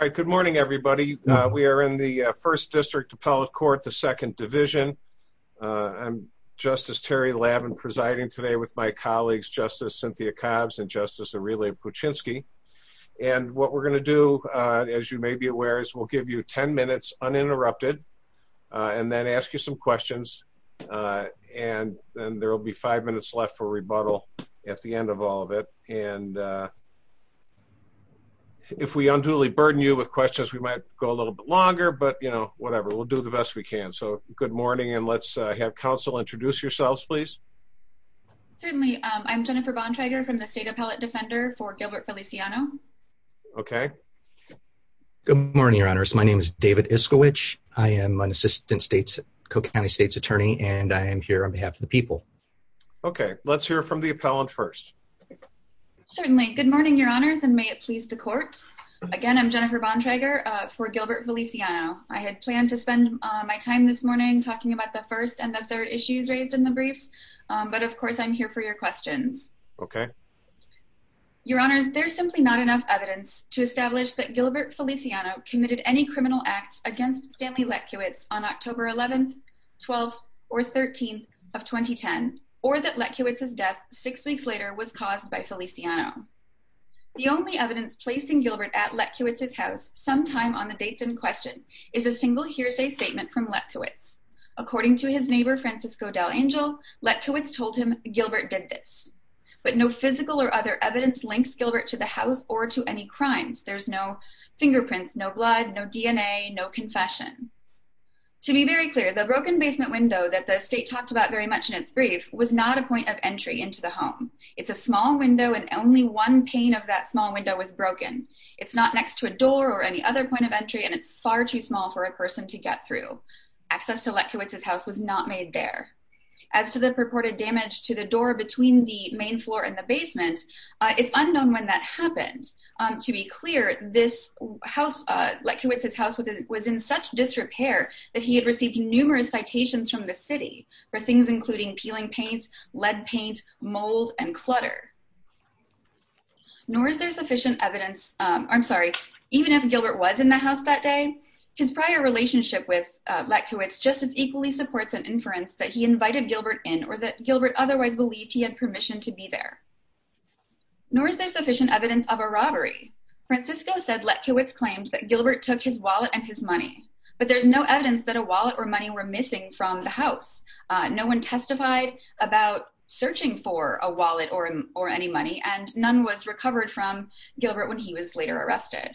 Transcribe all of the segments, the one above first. All right. Good morning, everybody. We are in the First District Appellate Court, the Second Division. I'm Justice Terry Lavin presiding today with my colleagues, Justice Cynthia Cobbs and Justice Aurelia Puchinsky. And what we're going to do, as you may be aware, is we'll give you 10 minutes uninterrupted and then ask you some questions. And then there will be five minutes left for rebuttal at the end of all of it. And if we unduly burden you with questions, we might go a little bit longer. But, you know, whatever, we'll do the best we can. So good morning. And let's have counsel introduce yourselves, please. Certainly. I'm Jennifer Bontrager from the State Appellate Defender for Gilbert Feliciano. Okay. Good morning, Your Honors. My name is David Iskowich. I am an Assistant Co-County States Attorney and I am here on behalf of the people. Okay, let's hear from the appellant first. Certainly. Good morning, Your Honors, and may it please the court. Again, I'm Jennifer Bontrager for Gilbert Feliciano. I had planned to spend my time this morning talking about the first and the third issues raised in the briefs. But of course, I'm here for your questions. Okay. Your Honors, there's simply not enough evidence to establish that Gilbert Feliciano committed any criminal acts against Stanley Letkiewicz on October 11th, 12th or 13th 2010, or that Letkiewicz's death six weeks later was caused by Feliciano. The only evidence placing Gilbert at Letkiewicz's house sometime on the dates in question is a single hearsay statement from Letkiewicz. According to his neighbor, Francisco Del Angel, Letkiewicz told him Gilbert did this. But no physical or other evidence links Gilbert to the house or to any crimes. There's no fingerprints, no blood, no DNA, no confession. To be very clear, the broken basement window that the state talked about very much in its brief was not a point of entry into the home. It's a small window and only one pane of that small window was broken. It's not next to a door or any other point of entry, and it's far too small for a person to get through. Access to Letkiewicz's house was not made there. As to the purported damage to the door between the main floor and the basement, it's unknown when that happened. To be clear, this house, Letkiewicz's was in such disrepair that he had received numerous citations from the city for things including peeling paints, lead paint, mold, and clutter. Nor is there sufficient evidence, I'm sorry, even if Gilbert was in the house that day, his prior relationship with Letkiewicz just as equally supports an inference that he invited Gilbert in or that Gilbert otherwise believed he had permission to be there. Nor is there sufficient evidence of a robbery. Francisco said Letkiewicz claimed that Gilbert took his wallet and his money, but there's no evidence that a wallet or money were missing from the house. No one testified about searching for a wallet or any money, and none was recovered from Gilbert when he was later arrested.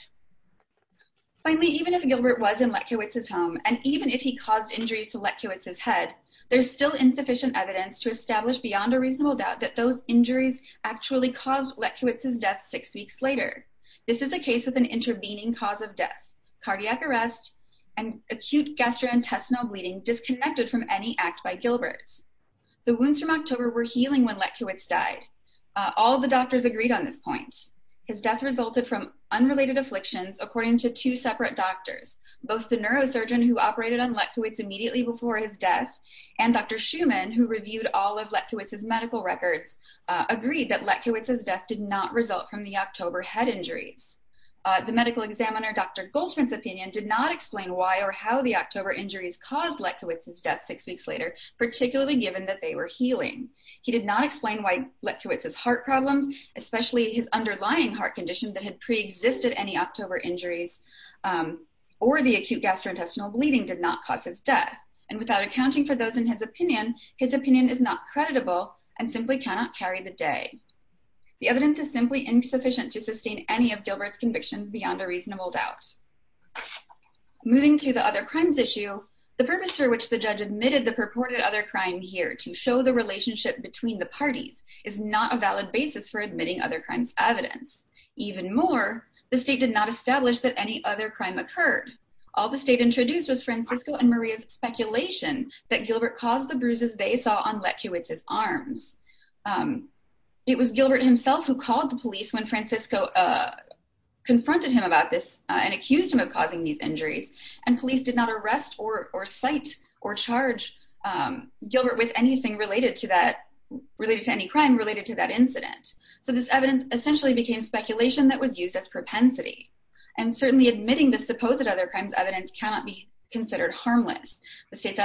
Finally, even if Gilbert was in Letkiewicz's home and even if he caused injuries to Letkiewicz's head, there's still insufficient evidence to establish beyond a reasonable doubt that those injuries occurred six weeks later. This is a case with an intervening cause of death, cardiac arrest, and acute gastrointestinal bleeding disconnected from any act by Gilbert's. The wounds from October were healing when Letkiewicz died. All the doctors agreed on this point. His death resulted from unrelated afflictions according to two separate doctors. Both the neurosurgeon who operated on Letkiewicz immediately before his death and Dr. Schumann, who reviewed all of Letkiewicz's medical records, agreed that Letkiewicz's death did not result from the October head injuries. The medical examiner Dr. Goldschmidt's opinion did not explain why or how the October injuries caused Letkiewicz's death six weeks later, particularly given that they were healing. He did not explain why Letkiewicz's heart problems, especially his underlying heart condition that had pre-existed any October injuries or the acute gastrointestinal bleeding did not cause his death, and without accounting for those in his opinion, his opinion is not The evidence is simply insufficient to sustain any of Gilbert's convictions beyond a reasonable doubt. Moving to the other crimes issue, the purpose for which the judge admitted the purported other crime here to show the relationship between the parties is not a valid basis for admitting other crimes evidence. Even more, the state did not establish that any other crime occurred. All the state introduced was Francisco and Maria's speculation that Gilbert caused the bruises they saw on Letkiewicz's arms. It was Gilbert himself who called the police when Francisco confronted him about this and accused him of causing these injuries, and police did not arrest or cite or charge Gilbert with anything related to that, related to any crime related to that incident. So this evidence essentially became speculation that was used as propensity, and certainly admitting the supposed other crimes evidence cannot be considered harmless. The state's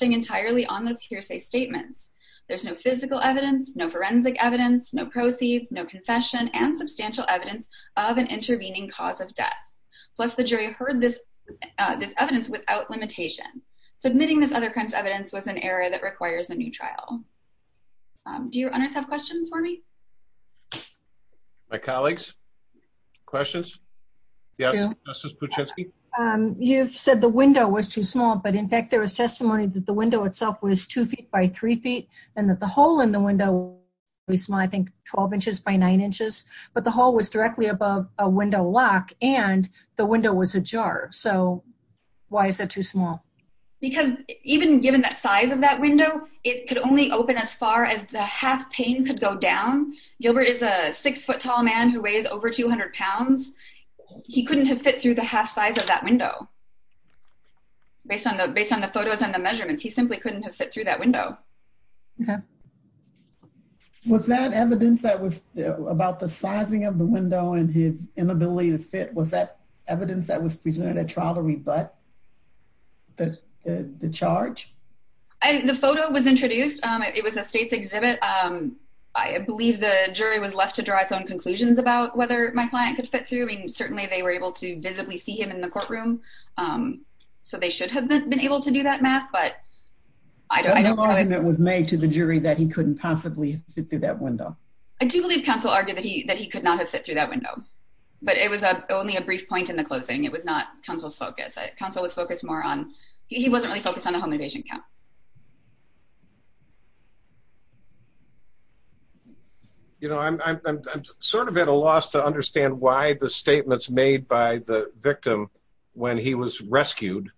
entirely on those hearsay statements. There's no physical evidence, no forensic evidence, no proceeds, no confession, and substantial evidence of an intervening cause of death. Plus, the jury heard this evidence without limitation. Submitting this other crimes evidence was an error that requires a new trial. Do your owners have questions for me? My colleagues? Questions? Yes, Justice Puczynski? You've said the window was too small, but in fact, there was testimony that the window itself was two feet by three feet, and that the hole in the window was, I think, 12 inches by nine inches, but the hole was directly above a window lock, and the window was ajar. So why is it too small? Because even given the size of that window, it could only open as far as the half pane could go down. Gilbert is a six-foot-tall man who weighs over 200 pounds. He couldn't have fit through the half size of that window, based on the photos and the measurements. He simply couldn't have fit through that window. Was that evidence that was about the sizing of the window and his inability to fit, was that evidence that was presented at trial to rebut the charge? The photo was introduced. It was a state's exhibit. I believe the jury was left to draw its own conclusions about whether my client could fit through. I mean, certainly they were able to visibly see him in the courtroom, so they should have been able to do that math, but I don't know. No argument was made to the jury that he couldn't possibly fit through that window. I do believe counsel argued that he could not have fit through that window, but it was only a brief point in the closing. It was not counsel's focus. Counsel was focused more on, he wasn't really focused on the home invasion count. I'm sort of at a loss to understand why the statements made by the victim when he was rescued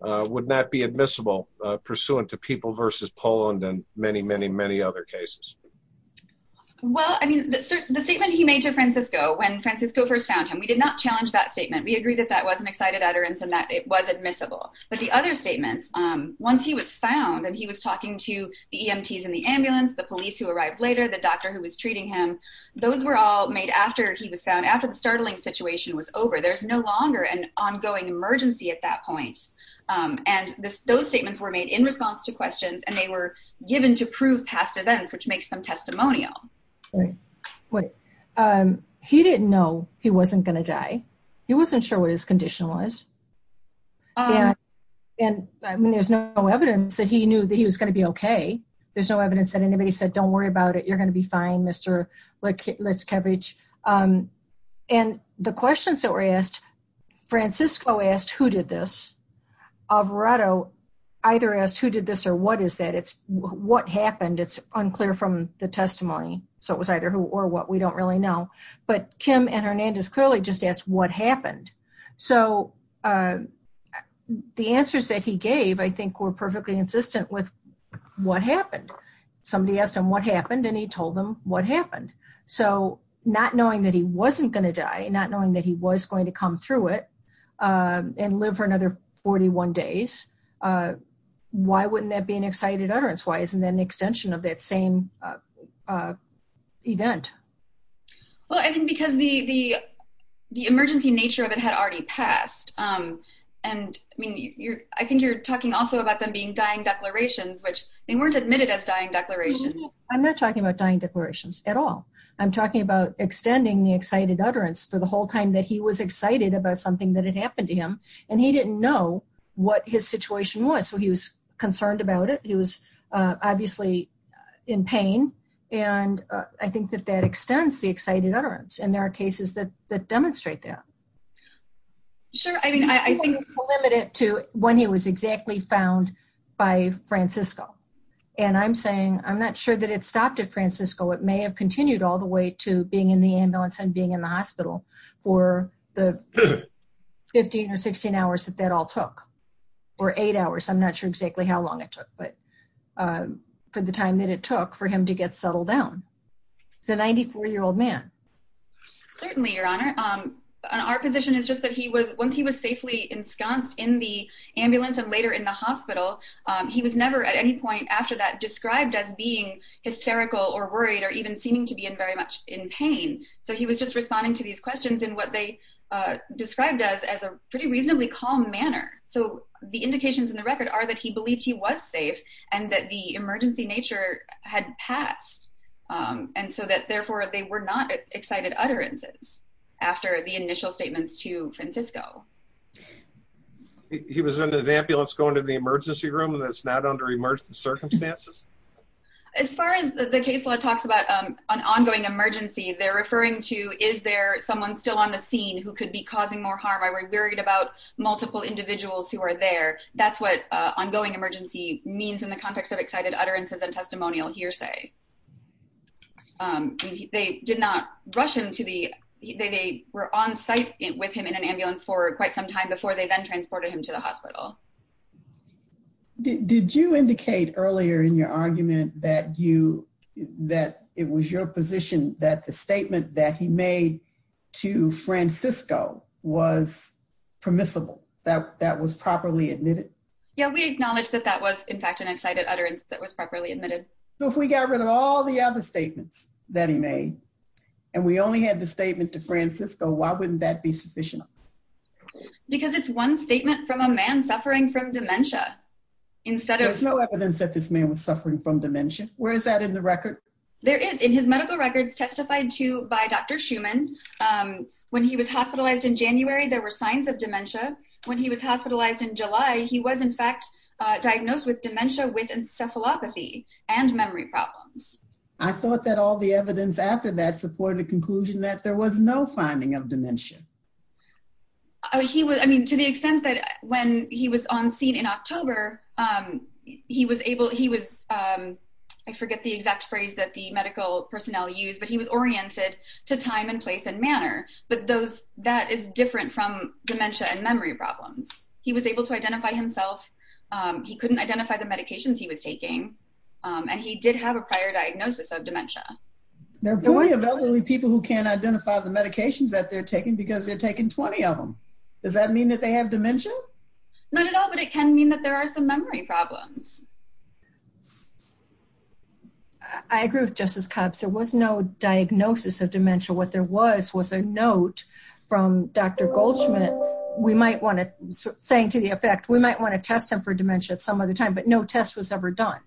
would not be admissible, pursuant to people versus Poland and many, many, many other cases. Well, I mean, the statement he made to Francisco when Francisco first found him, we did not challenge that statement. We agreed that that was an excited utterance and that it was admissible. But the other statements, once he was found and he was talking to the EMTs in the ambulance, the police who arrived later, the doctor who was treating him, those were all made after he was found, after the startling situation was over. There's no longer an ongoing emergency at that point. And those statements were made in response to questions and they were given to prove past events, which makes them testimonial. Right. He didn't know he wasn't going to die. He wasn't sure what his condition was. And there's no evidence that he knew that he was going to be okay. There's no evidence that anybody said, don't worry about it. You're going to be fine, Mr. Litzkevich. And the questions that were asked, Francisco asked, who did this? Alvarado either asked, who did this or what is that? It's what happened. It's unclear from the testimony. So it was either who or what, we don't really know. But Kim and Hernandez clearly just asked what happened. So the answers that he gave, I think, were perfectly insistent with what happened. Somebody asked him what happened and he told them what happened. So not knowing that he wasn't going to die, not knowing that he was going to come through it and live for another 41 days, why wouldn't that be an excited utterance? Why isn't an extension of that same event? Well, I think because the emergency nature of it had already passed. And I think you're talking also about them being dying declarations, which they weren't admitted as dying declarations. I'm not talking about dying declarations at all. I'm talking about extending the excited utterance for the whole time that he was excited about something that had happened to him. And he didn't know what his situation was. So he was concerned about it. He was obviously in pain. And I think that that extends the excited utterance. And there are cases that demonstrate that. Sure. I mean, I think it's limited to when he was exactly found by Francisco. And I'm saying, I'm not sure that it stopped at Francisco. It may have continued all the way to being in the ambulance and being in the hospital for the 15 or 16 hours that that took, or eight hours. I'm not sure exactly how long it took, but for the time that it took for him to get settled down. He's a 94 year old man. Certainly, Your Honor. Our position is just that he was once he was safely ensconced in the ambulance and later in the hospital. He was never at any point after that described as being hysterical or worried or even seeming to be in very much in pain. So he was just responding to these questions and what they described as as a reasonably calm manner. So the indications in the record are that he believed he was safe and that the emergency nature had passed. And so that therefore they were not excited utterances after the initial statements to Francisco. He was in an ambulance going to the emergency room that's not under emergency circumstances. As far as the case law talks about an ongoing emergency, they're referring to is there someone still on the scene who could be causing more harm? I worried about multiple individuals who are there. That's what ongoing emergency means in the context of excited utterances and testimonial hearsay. They did not rush him to the they were on site with him in an ambulance for quite some time before they then transported him to the hospital. Did you indicate earlier in your argument that you that it was your position that the statement that he made to Francisco was permissible, that that was properly admitted? Yeah, we acknowledge that that was, in fact, an excited utterance that was properly admitted. So if we got rid of all the other statements that he made, and we only had the statement to Francisco, why wouldn't that be sufficient? Because it's one statement from a man suffering from dementia. Instead of no evidence that this man was suffering from dementia. Where is that in the record? There is in his medical records testified to by Dr. Schuman. When he was hospitalized in January, there were signs of dementia. When he was hospitalized in July, he was in fact, diagnosed with dementia with encephalopathy and memory problems. I thought that all the evidence after that supported the conclusion that there was no finding of dementia. To the extent that when he was on scene in October, I forget the exact phrase that the medical personnel used, but he was oriented to time and place and manner. But that is different from dementia and memory problems. He was able to identify himself. He couldn't identify the medications he was taking. And he did have prior diagnosis of dementia. There are plenty of elderly people who can't identify the medications that they're taking because they're taking 20 of them. Does that mean that they have dementia? Not at all, but it can mean that there are some memory problems. I agree with Justice Copps. There was no diagnosis of dementia. What there was, was a note from Dr. Goldschmidt. We might want to, saying to the effect, we might want to test him for dementia at some other time, but no test was ever done.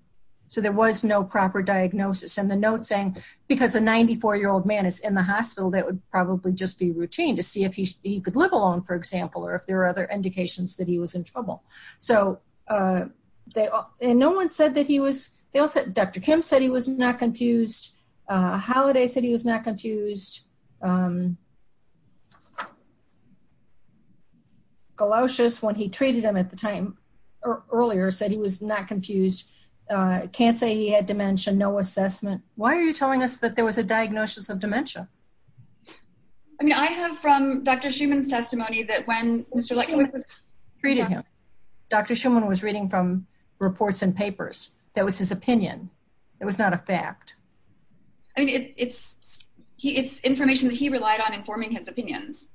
So there was no proper diagnosis. And the note saying, because a 94-year-old man is in the hospital, that would probably just be routine to see if he could live alone, for example, or if there are other indications that he was in trouble. Dr. Kim said he was not confused. Holliday said he was not confused. Galoshes, when he treated him at the time, earlier, said he was not confused. Can't say he had dementia, no assessment. Why are you telling us that there was a diagnosis of dementia? I mean, I have from Dr. Schuman's testimony that when Mr. Schuman was treating him, Dr. Schuman was reading from reports and papers. That was his opinion. It was not a fact. I mean, it's information that he relied on informing his opinions.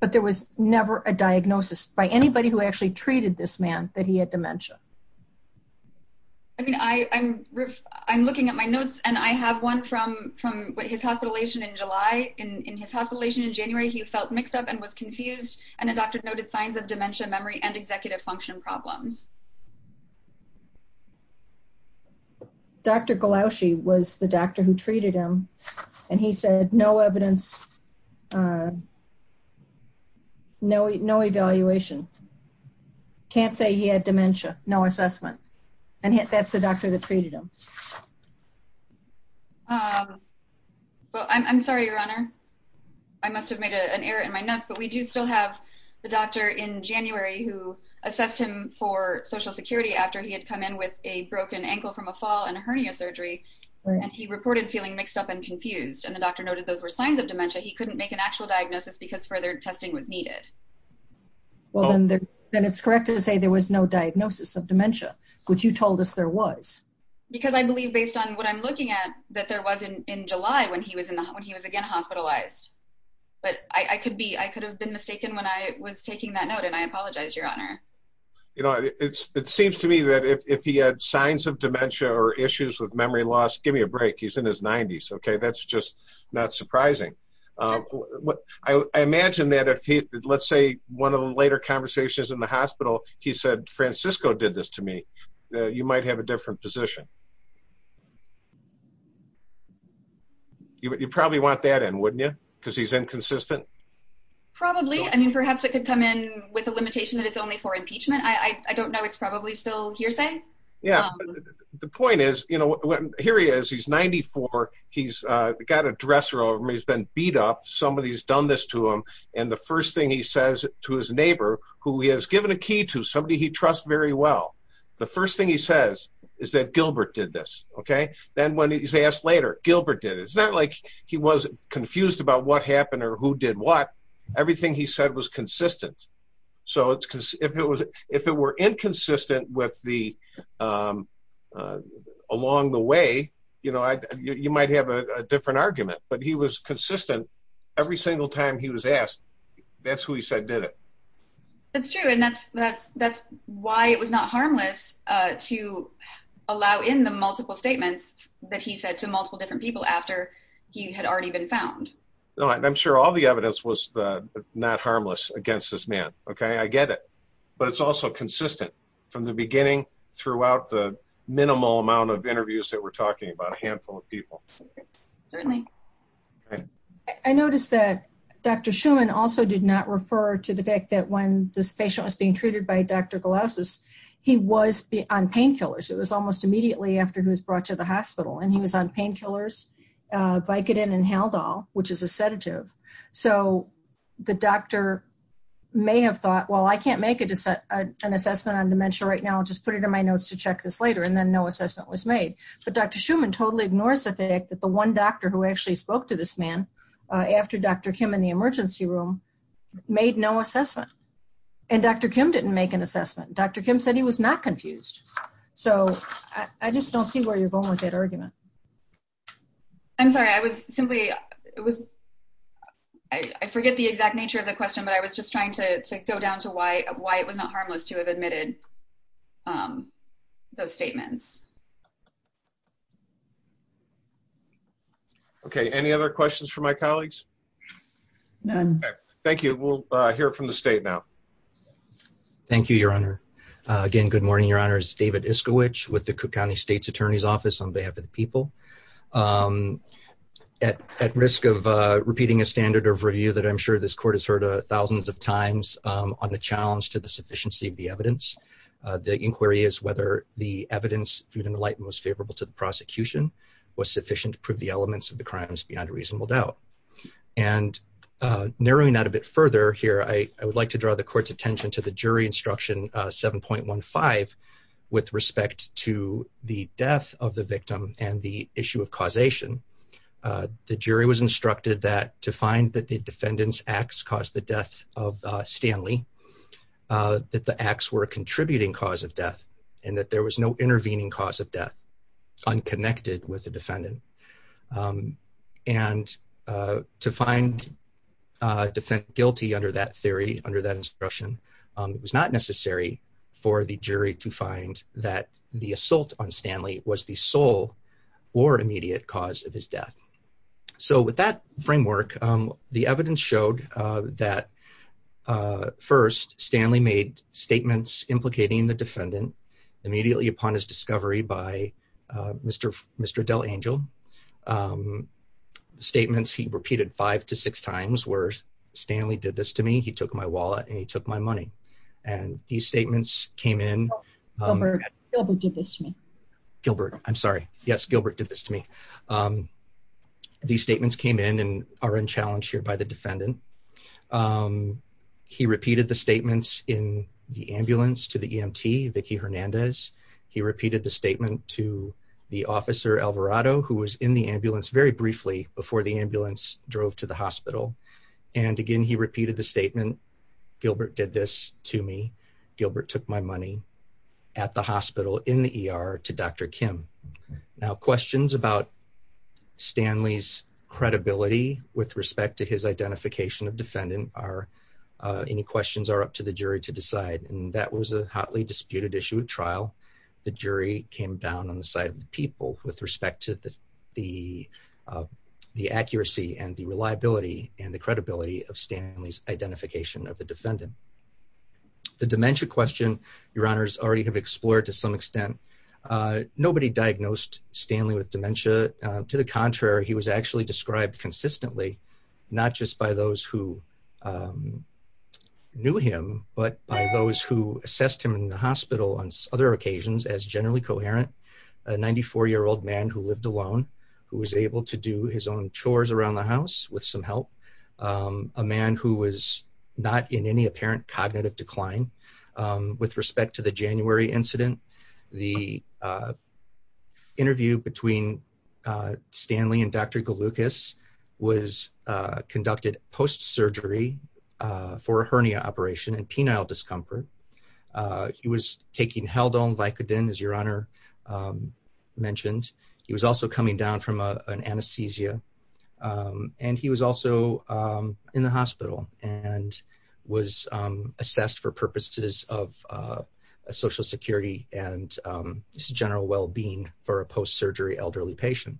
But there was never a diagnosis by anybody who actually treated this man that he had dementia. I mean, I'm looking at my notes, and I have one from his hospitalization in July. In his hospitalization in January, he felt mixed up and was confused, and a doctor noted signs of dementia, memory, and executive function problems. Dr. Galoshe was the doctor who treated him, and he said no evidence, no evaluation. Can't say he had dementia, no assessment, and that's the doctor that treated him. Well, I'm sorry, Your Honor. I must have made an error in my notes, but we do still have the doctor in January who assessed him for social security after he had come in with a broken ankle from a fall and a hernia surgery, and he reported feeling mixed up and confused, and the doctor noted those were signs of dementia. He couldn't make an actual diagnosis because further testing was needed. Well, then it's correct to say there was no diagnosis of dementia, which you told us there was. Because I believe, based on what I'm looking at, that there was in July when he was hospitalized, but I could have been mistaken when I was taking that note, and I apologize, Your Honor. You know, it seems to me that if he had signs of dementia or issues with memory loss, give me a break. He's in his 90s, okay? That's just not surprising. I imagine that if he, let's say, one of the later conversations in the hospital, he said, Francisco did this to me. You might have a different position. You probably want that in, wouldn't you? Because he's inconsistent. Probably. I mean, perhaps it could come in with a limitation that it's only for impeachment. I don't know. It's probably still hearsay. Yeah, the point is, you know, here he is. He's 94. He's got a dresser over him. He's been beat up. Somebody's done this to him, and the first thing he says to his neighbor, who he has given a key to, somebody he trusts very well, the first thing he says is that Gilbert did this, okay? Then when he's asked later, Gilbert did it. It's not like he was confused about what happened or who did what. Everything he said was consistent, so if it were inconsistent along the way, you know, you might have a different argument, but he was consistent every single time he was asked. That's who he said did it. That's true, and that's why it was not harmless to allow in the multiple statements that he said to multiple different people after he had already been found. No, I'm sure all the evidence was not harmless against this man, okay? I get it, but it's also consistent from the beginning throughout the minimal amount of interviews that we're talking about, a handful of people. Certainly. I noticed that Dr. Schumann also did not refer to the fact that when this patient was being treated by Dr. Galausis, he was on painkillers. It was almost immediately after he was brought to the hospital, and he was on painkillers, Vicodin, and Haldol, which is a sedative, so the doctor may have thought, well, I can't make an assessment on dementia right now. I'll just put it in my notes to check this later, and then no assessment was made, but Dr. Schumann totally ignores the fact that the one doctor who actually spoke to this man after Dr. Kim in the emergency room made no assessment, and Dr. Kim didn't make an assessment. Dr. Kim said he was not confused, so I just don't see where you're going with that argument. I'm sorry. I was simply, I forget the exact nature of the question, but I was just trying to go down to why it was not harmless to have admitted those statements. Okay. Any other questions for my colleagues? None. Okay. Thank you. We'll hear from the state now. Thank you, Your Honor. Again, good morning, Your Honors. David Iskowich with the Cook County State's Attorney's Office on behalf of the people. At risk of repeating a standard of review that I'm sure this court has heard thousands of times on the challenge to the sufficiency of the evidence, the inquiry is whether the evidence, food and light, most favorable to the prosecution was sufficient to prove the elements of the crimes beyond a reasonable doubt. And narrowing that a bit further here, I would like to draw the court's attention to the jury instruction 7.15 with respect to the death of the victim and the issue of causation. The jury was instructed that to find that the defendant's acts caused the death of Stanley, that the acts were a contributing cause of death and that there was no intervening cause of death unconnected with the defendant. And to find defendant guilty under that theory, under that instruction, it was not necessary for the jury to find that the assault on Stanley was the sole or immediate cause of his death. So with that framework, the evidence showed that first, Stanley made statements implicating the defendant immediately upon his discovery by Mr. Del Angel. The statements he repeated five to six times were, Stanley did this to me, he took my wallet and he took my money. And these statements came in... Gilbert did this to me. Gilbert, I'm sorry. Yes, Gilbert did this to me. These statements came in and are in challenge here by the defendant. He repeated the statements in the ambulance to the EMT, Vicky Hernandez. He repeated the statement to the officer Alvarado, who was in the ambulance very briefly before the ambulance drove to the hospital. And again, he repeated the statement, Gilbert did this to me. Gilbert took my money at the hospital in the ER to Dr. Kim. Now questions about Stanley's credibility with respect to his identification of defendant are, any questions are up to the jury to decide. And that was a hotly disputed issue at trial. The jury came down on the side of the people with respect to the accuracy and the reliability and the credibility of Stanley's identification of the defendant. The dementia question, your honors already have explored to some extent. Nobody diagnosed Stanley with dementia. To the contrary, he was actually described consistently, not just by those who knew him, but by those who assessed him in the hospital on other occasions as generally coherent, a 94-year-old man who lived alone, who was able to do his own chores around the house with some help, a man who was not in any apparent cognitive decline. With respect to the January incident, the Dr. Galukas was conducted post-surgery for a hernia operation and penile discomfort. He was taking Haldol and Vicodin, as your honor mentioned. He was also coming down from an anesthesia. And he was also in the hospital and was assessed for purposes of social security and general well-being for a post-surgery elderly patient.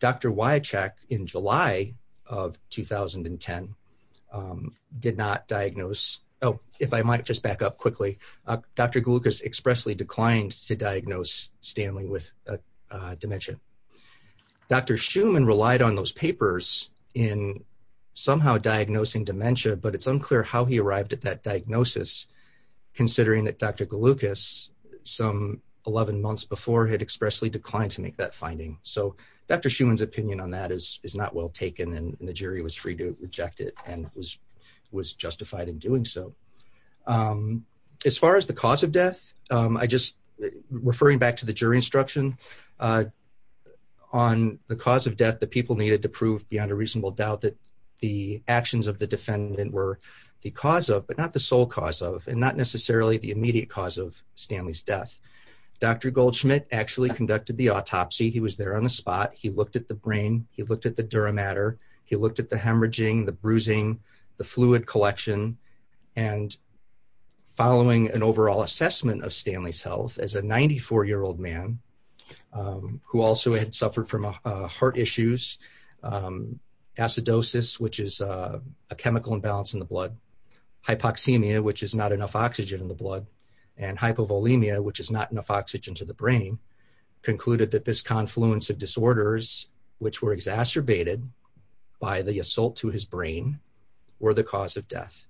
Dr. Wycheck, in July of 2010, did not diagnose. Oh, if I might just back up quickly. Dr. Galukas expressly declined to diagnose Stanley with dementia. Dr. Schuman relied on those papers in somehow diagnosing dementia, but it's unclear how he arrived at that diagnosis, considering that Dr. Galukas, some 11 months before, had expressly declined to make that finding. So Dr. Schuman's opinion on that is not well taken, and the jury was free to reject it and was justified in doing so. As far as the cause of death, I just, referring back to the jury instruction, on the cause of death, the people needed to prove beyond a reasonable doubt that the actions of the defendant were the cause of, but not the sole cause of, and not necessarily the immediate cause of Stanley's death. Dr. Goldschmidt actually conducted the autopsy. He was there on the spot. He looked at the brain. He looked at the dura mater. He looked at the hemorrhaging, the bruising, the fluid collection. And following an overall assessment of Stanley's as a 94-year-old man who also had suffered from heart issues, acidosis, which is a chemical imbalance in the blood, hypoxemia, which is not enough oxygen in the blood, and hypovolemia, which is not enough oxygen to the brain, concluded that this confluence of disorders, which were exacerbated by the assault to his brain, were the cause of death.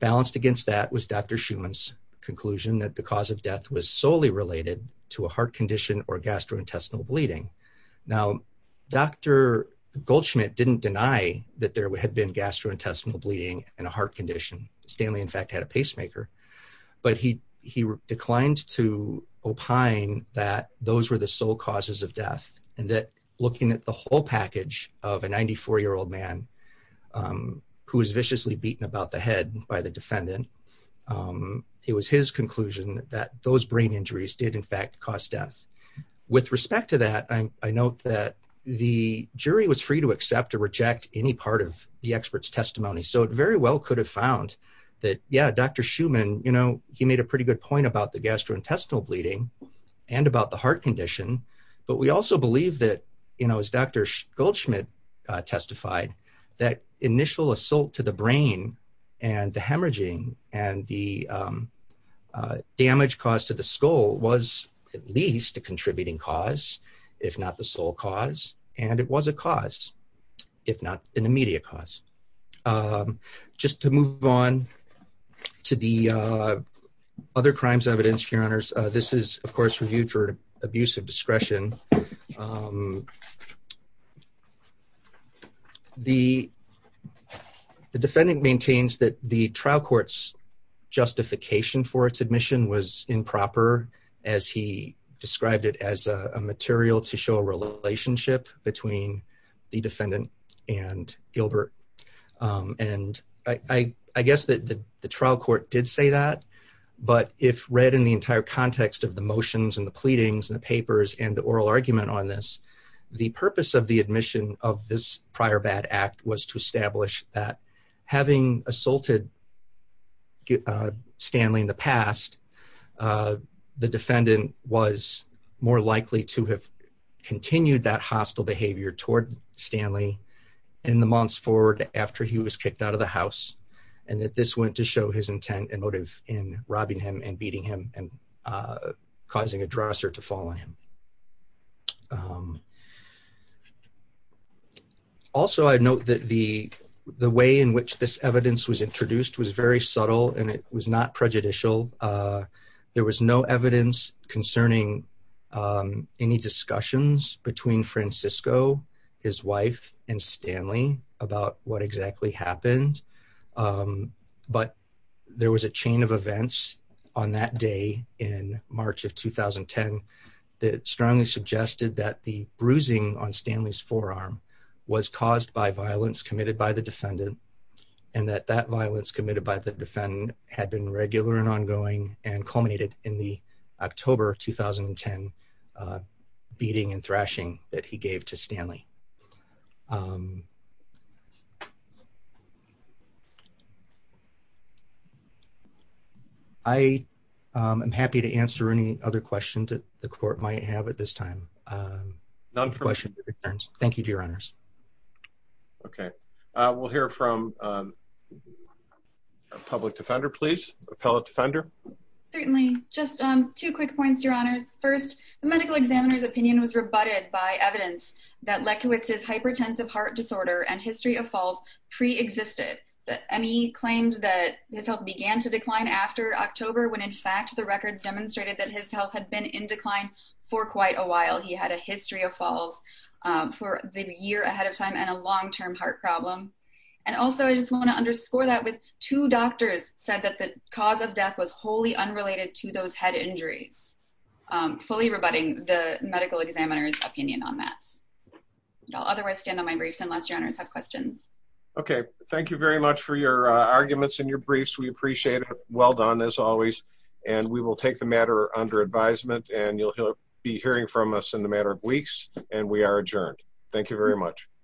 Balanced against that was Dr. Schuman's conclusion that the cause of death was solely related to a heart condition or gastrointestinal bleeding. Now, Dr. Goldschmidt didn't deny that there had been gastrointestinal bleeding and a heart condition. Stanley, in fact, had a pacemaker. But he declined to opine that those were the sole causes of death, and that looking at the whole package of a 94-year-old man who was viciously beaten about the head by the defendant, it was his conclusion that those brain injuries did, in fact, cause death. With respect to that, I note that the jury was free to accept or reject any part of the expert's testimony. So it very well could have found that, yeah, Dr. Schuman, he made a pretty good point about the gastrointestinal bleeding and about the heart condition. But we also believe that, as Dr. Goldschmidt testified, that initial assault to the brain and the hemorrhaging and the damage caused to the skull was at least a contributing cause, if not the sole cause. And it was a cause, if not an immediate cause. Just to move on to the other crimes evidenced, Your Honors, this is, of course, reviewed for abuse of discretion. The defendant maintains that the trial court's justification for its admission was improper, as he described it as a material to show a relationship between the defendant and Gilbert. And I guess that the trial court did say that, but if read in the entire context of the motions and the pleadings and the papers and the oral argument on this, the purpose of the admission of this prior bad act was to establish that, having assaulted Stanley in the past, the defendant was more likely to have continued that hostile behavior toward Stanley in the months forward after he was kicked out of the house, and that this went to show his intent and motive in robbing him and beating him and This evidence was introduced, was very subtle, and it was not prejudicial. There was no evidence concerning any discussions between Francisco, his wife, and Stanley about what exactly happened, but there was a chain of events on that day in March of 2010 that strongly suggested that the that that violence committed by the defendant had been regular and ongoing and culminated in the October 2010 beating and thrashing that he gave to Stanley. I am happy to answer any other questions that the court might have at this time. Questions or concerns? Thank you, Your Honors. Okay, we'll hear from a public defender, please. Appellate defender. Certainly. Just two quick points, Your Honors. First, the medical examiner's opinion was rebutted by evidence that Lekiewicz's hypertensive heart disorder and history of falls pre-existed. M.E. claimed that his health began to decline after October when, in fact, the records demonstrated that his health had been in decline for quite a while. He had a history of falls for the year ahead of time and a long-term heart problem. And also, I just want to underscore that with two doctors said that the cause of death was wholly unrelated to those head injuries, fully rebutting the medical examiner's opinion on that. I'll otherwise stand on my briefs unless Your Honors have questions. Okay, thank you very much for your arguments and your briefs. We appreciate it. Well done, as always. And we will take the matter under advisement, and you'll be hearing from us in a matter of weeks. And we are adjourned. Thank you very much.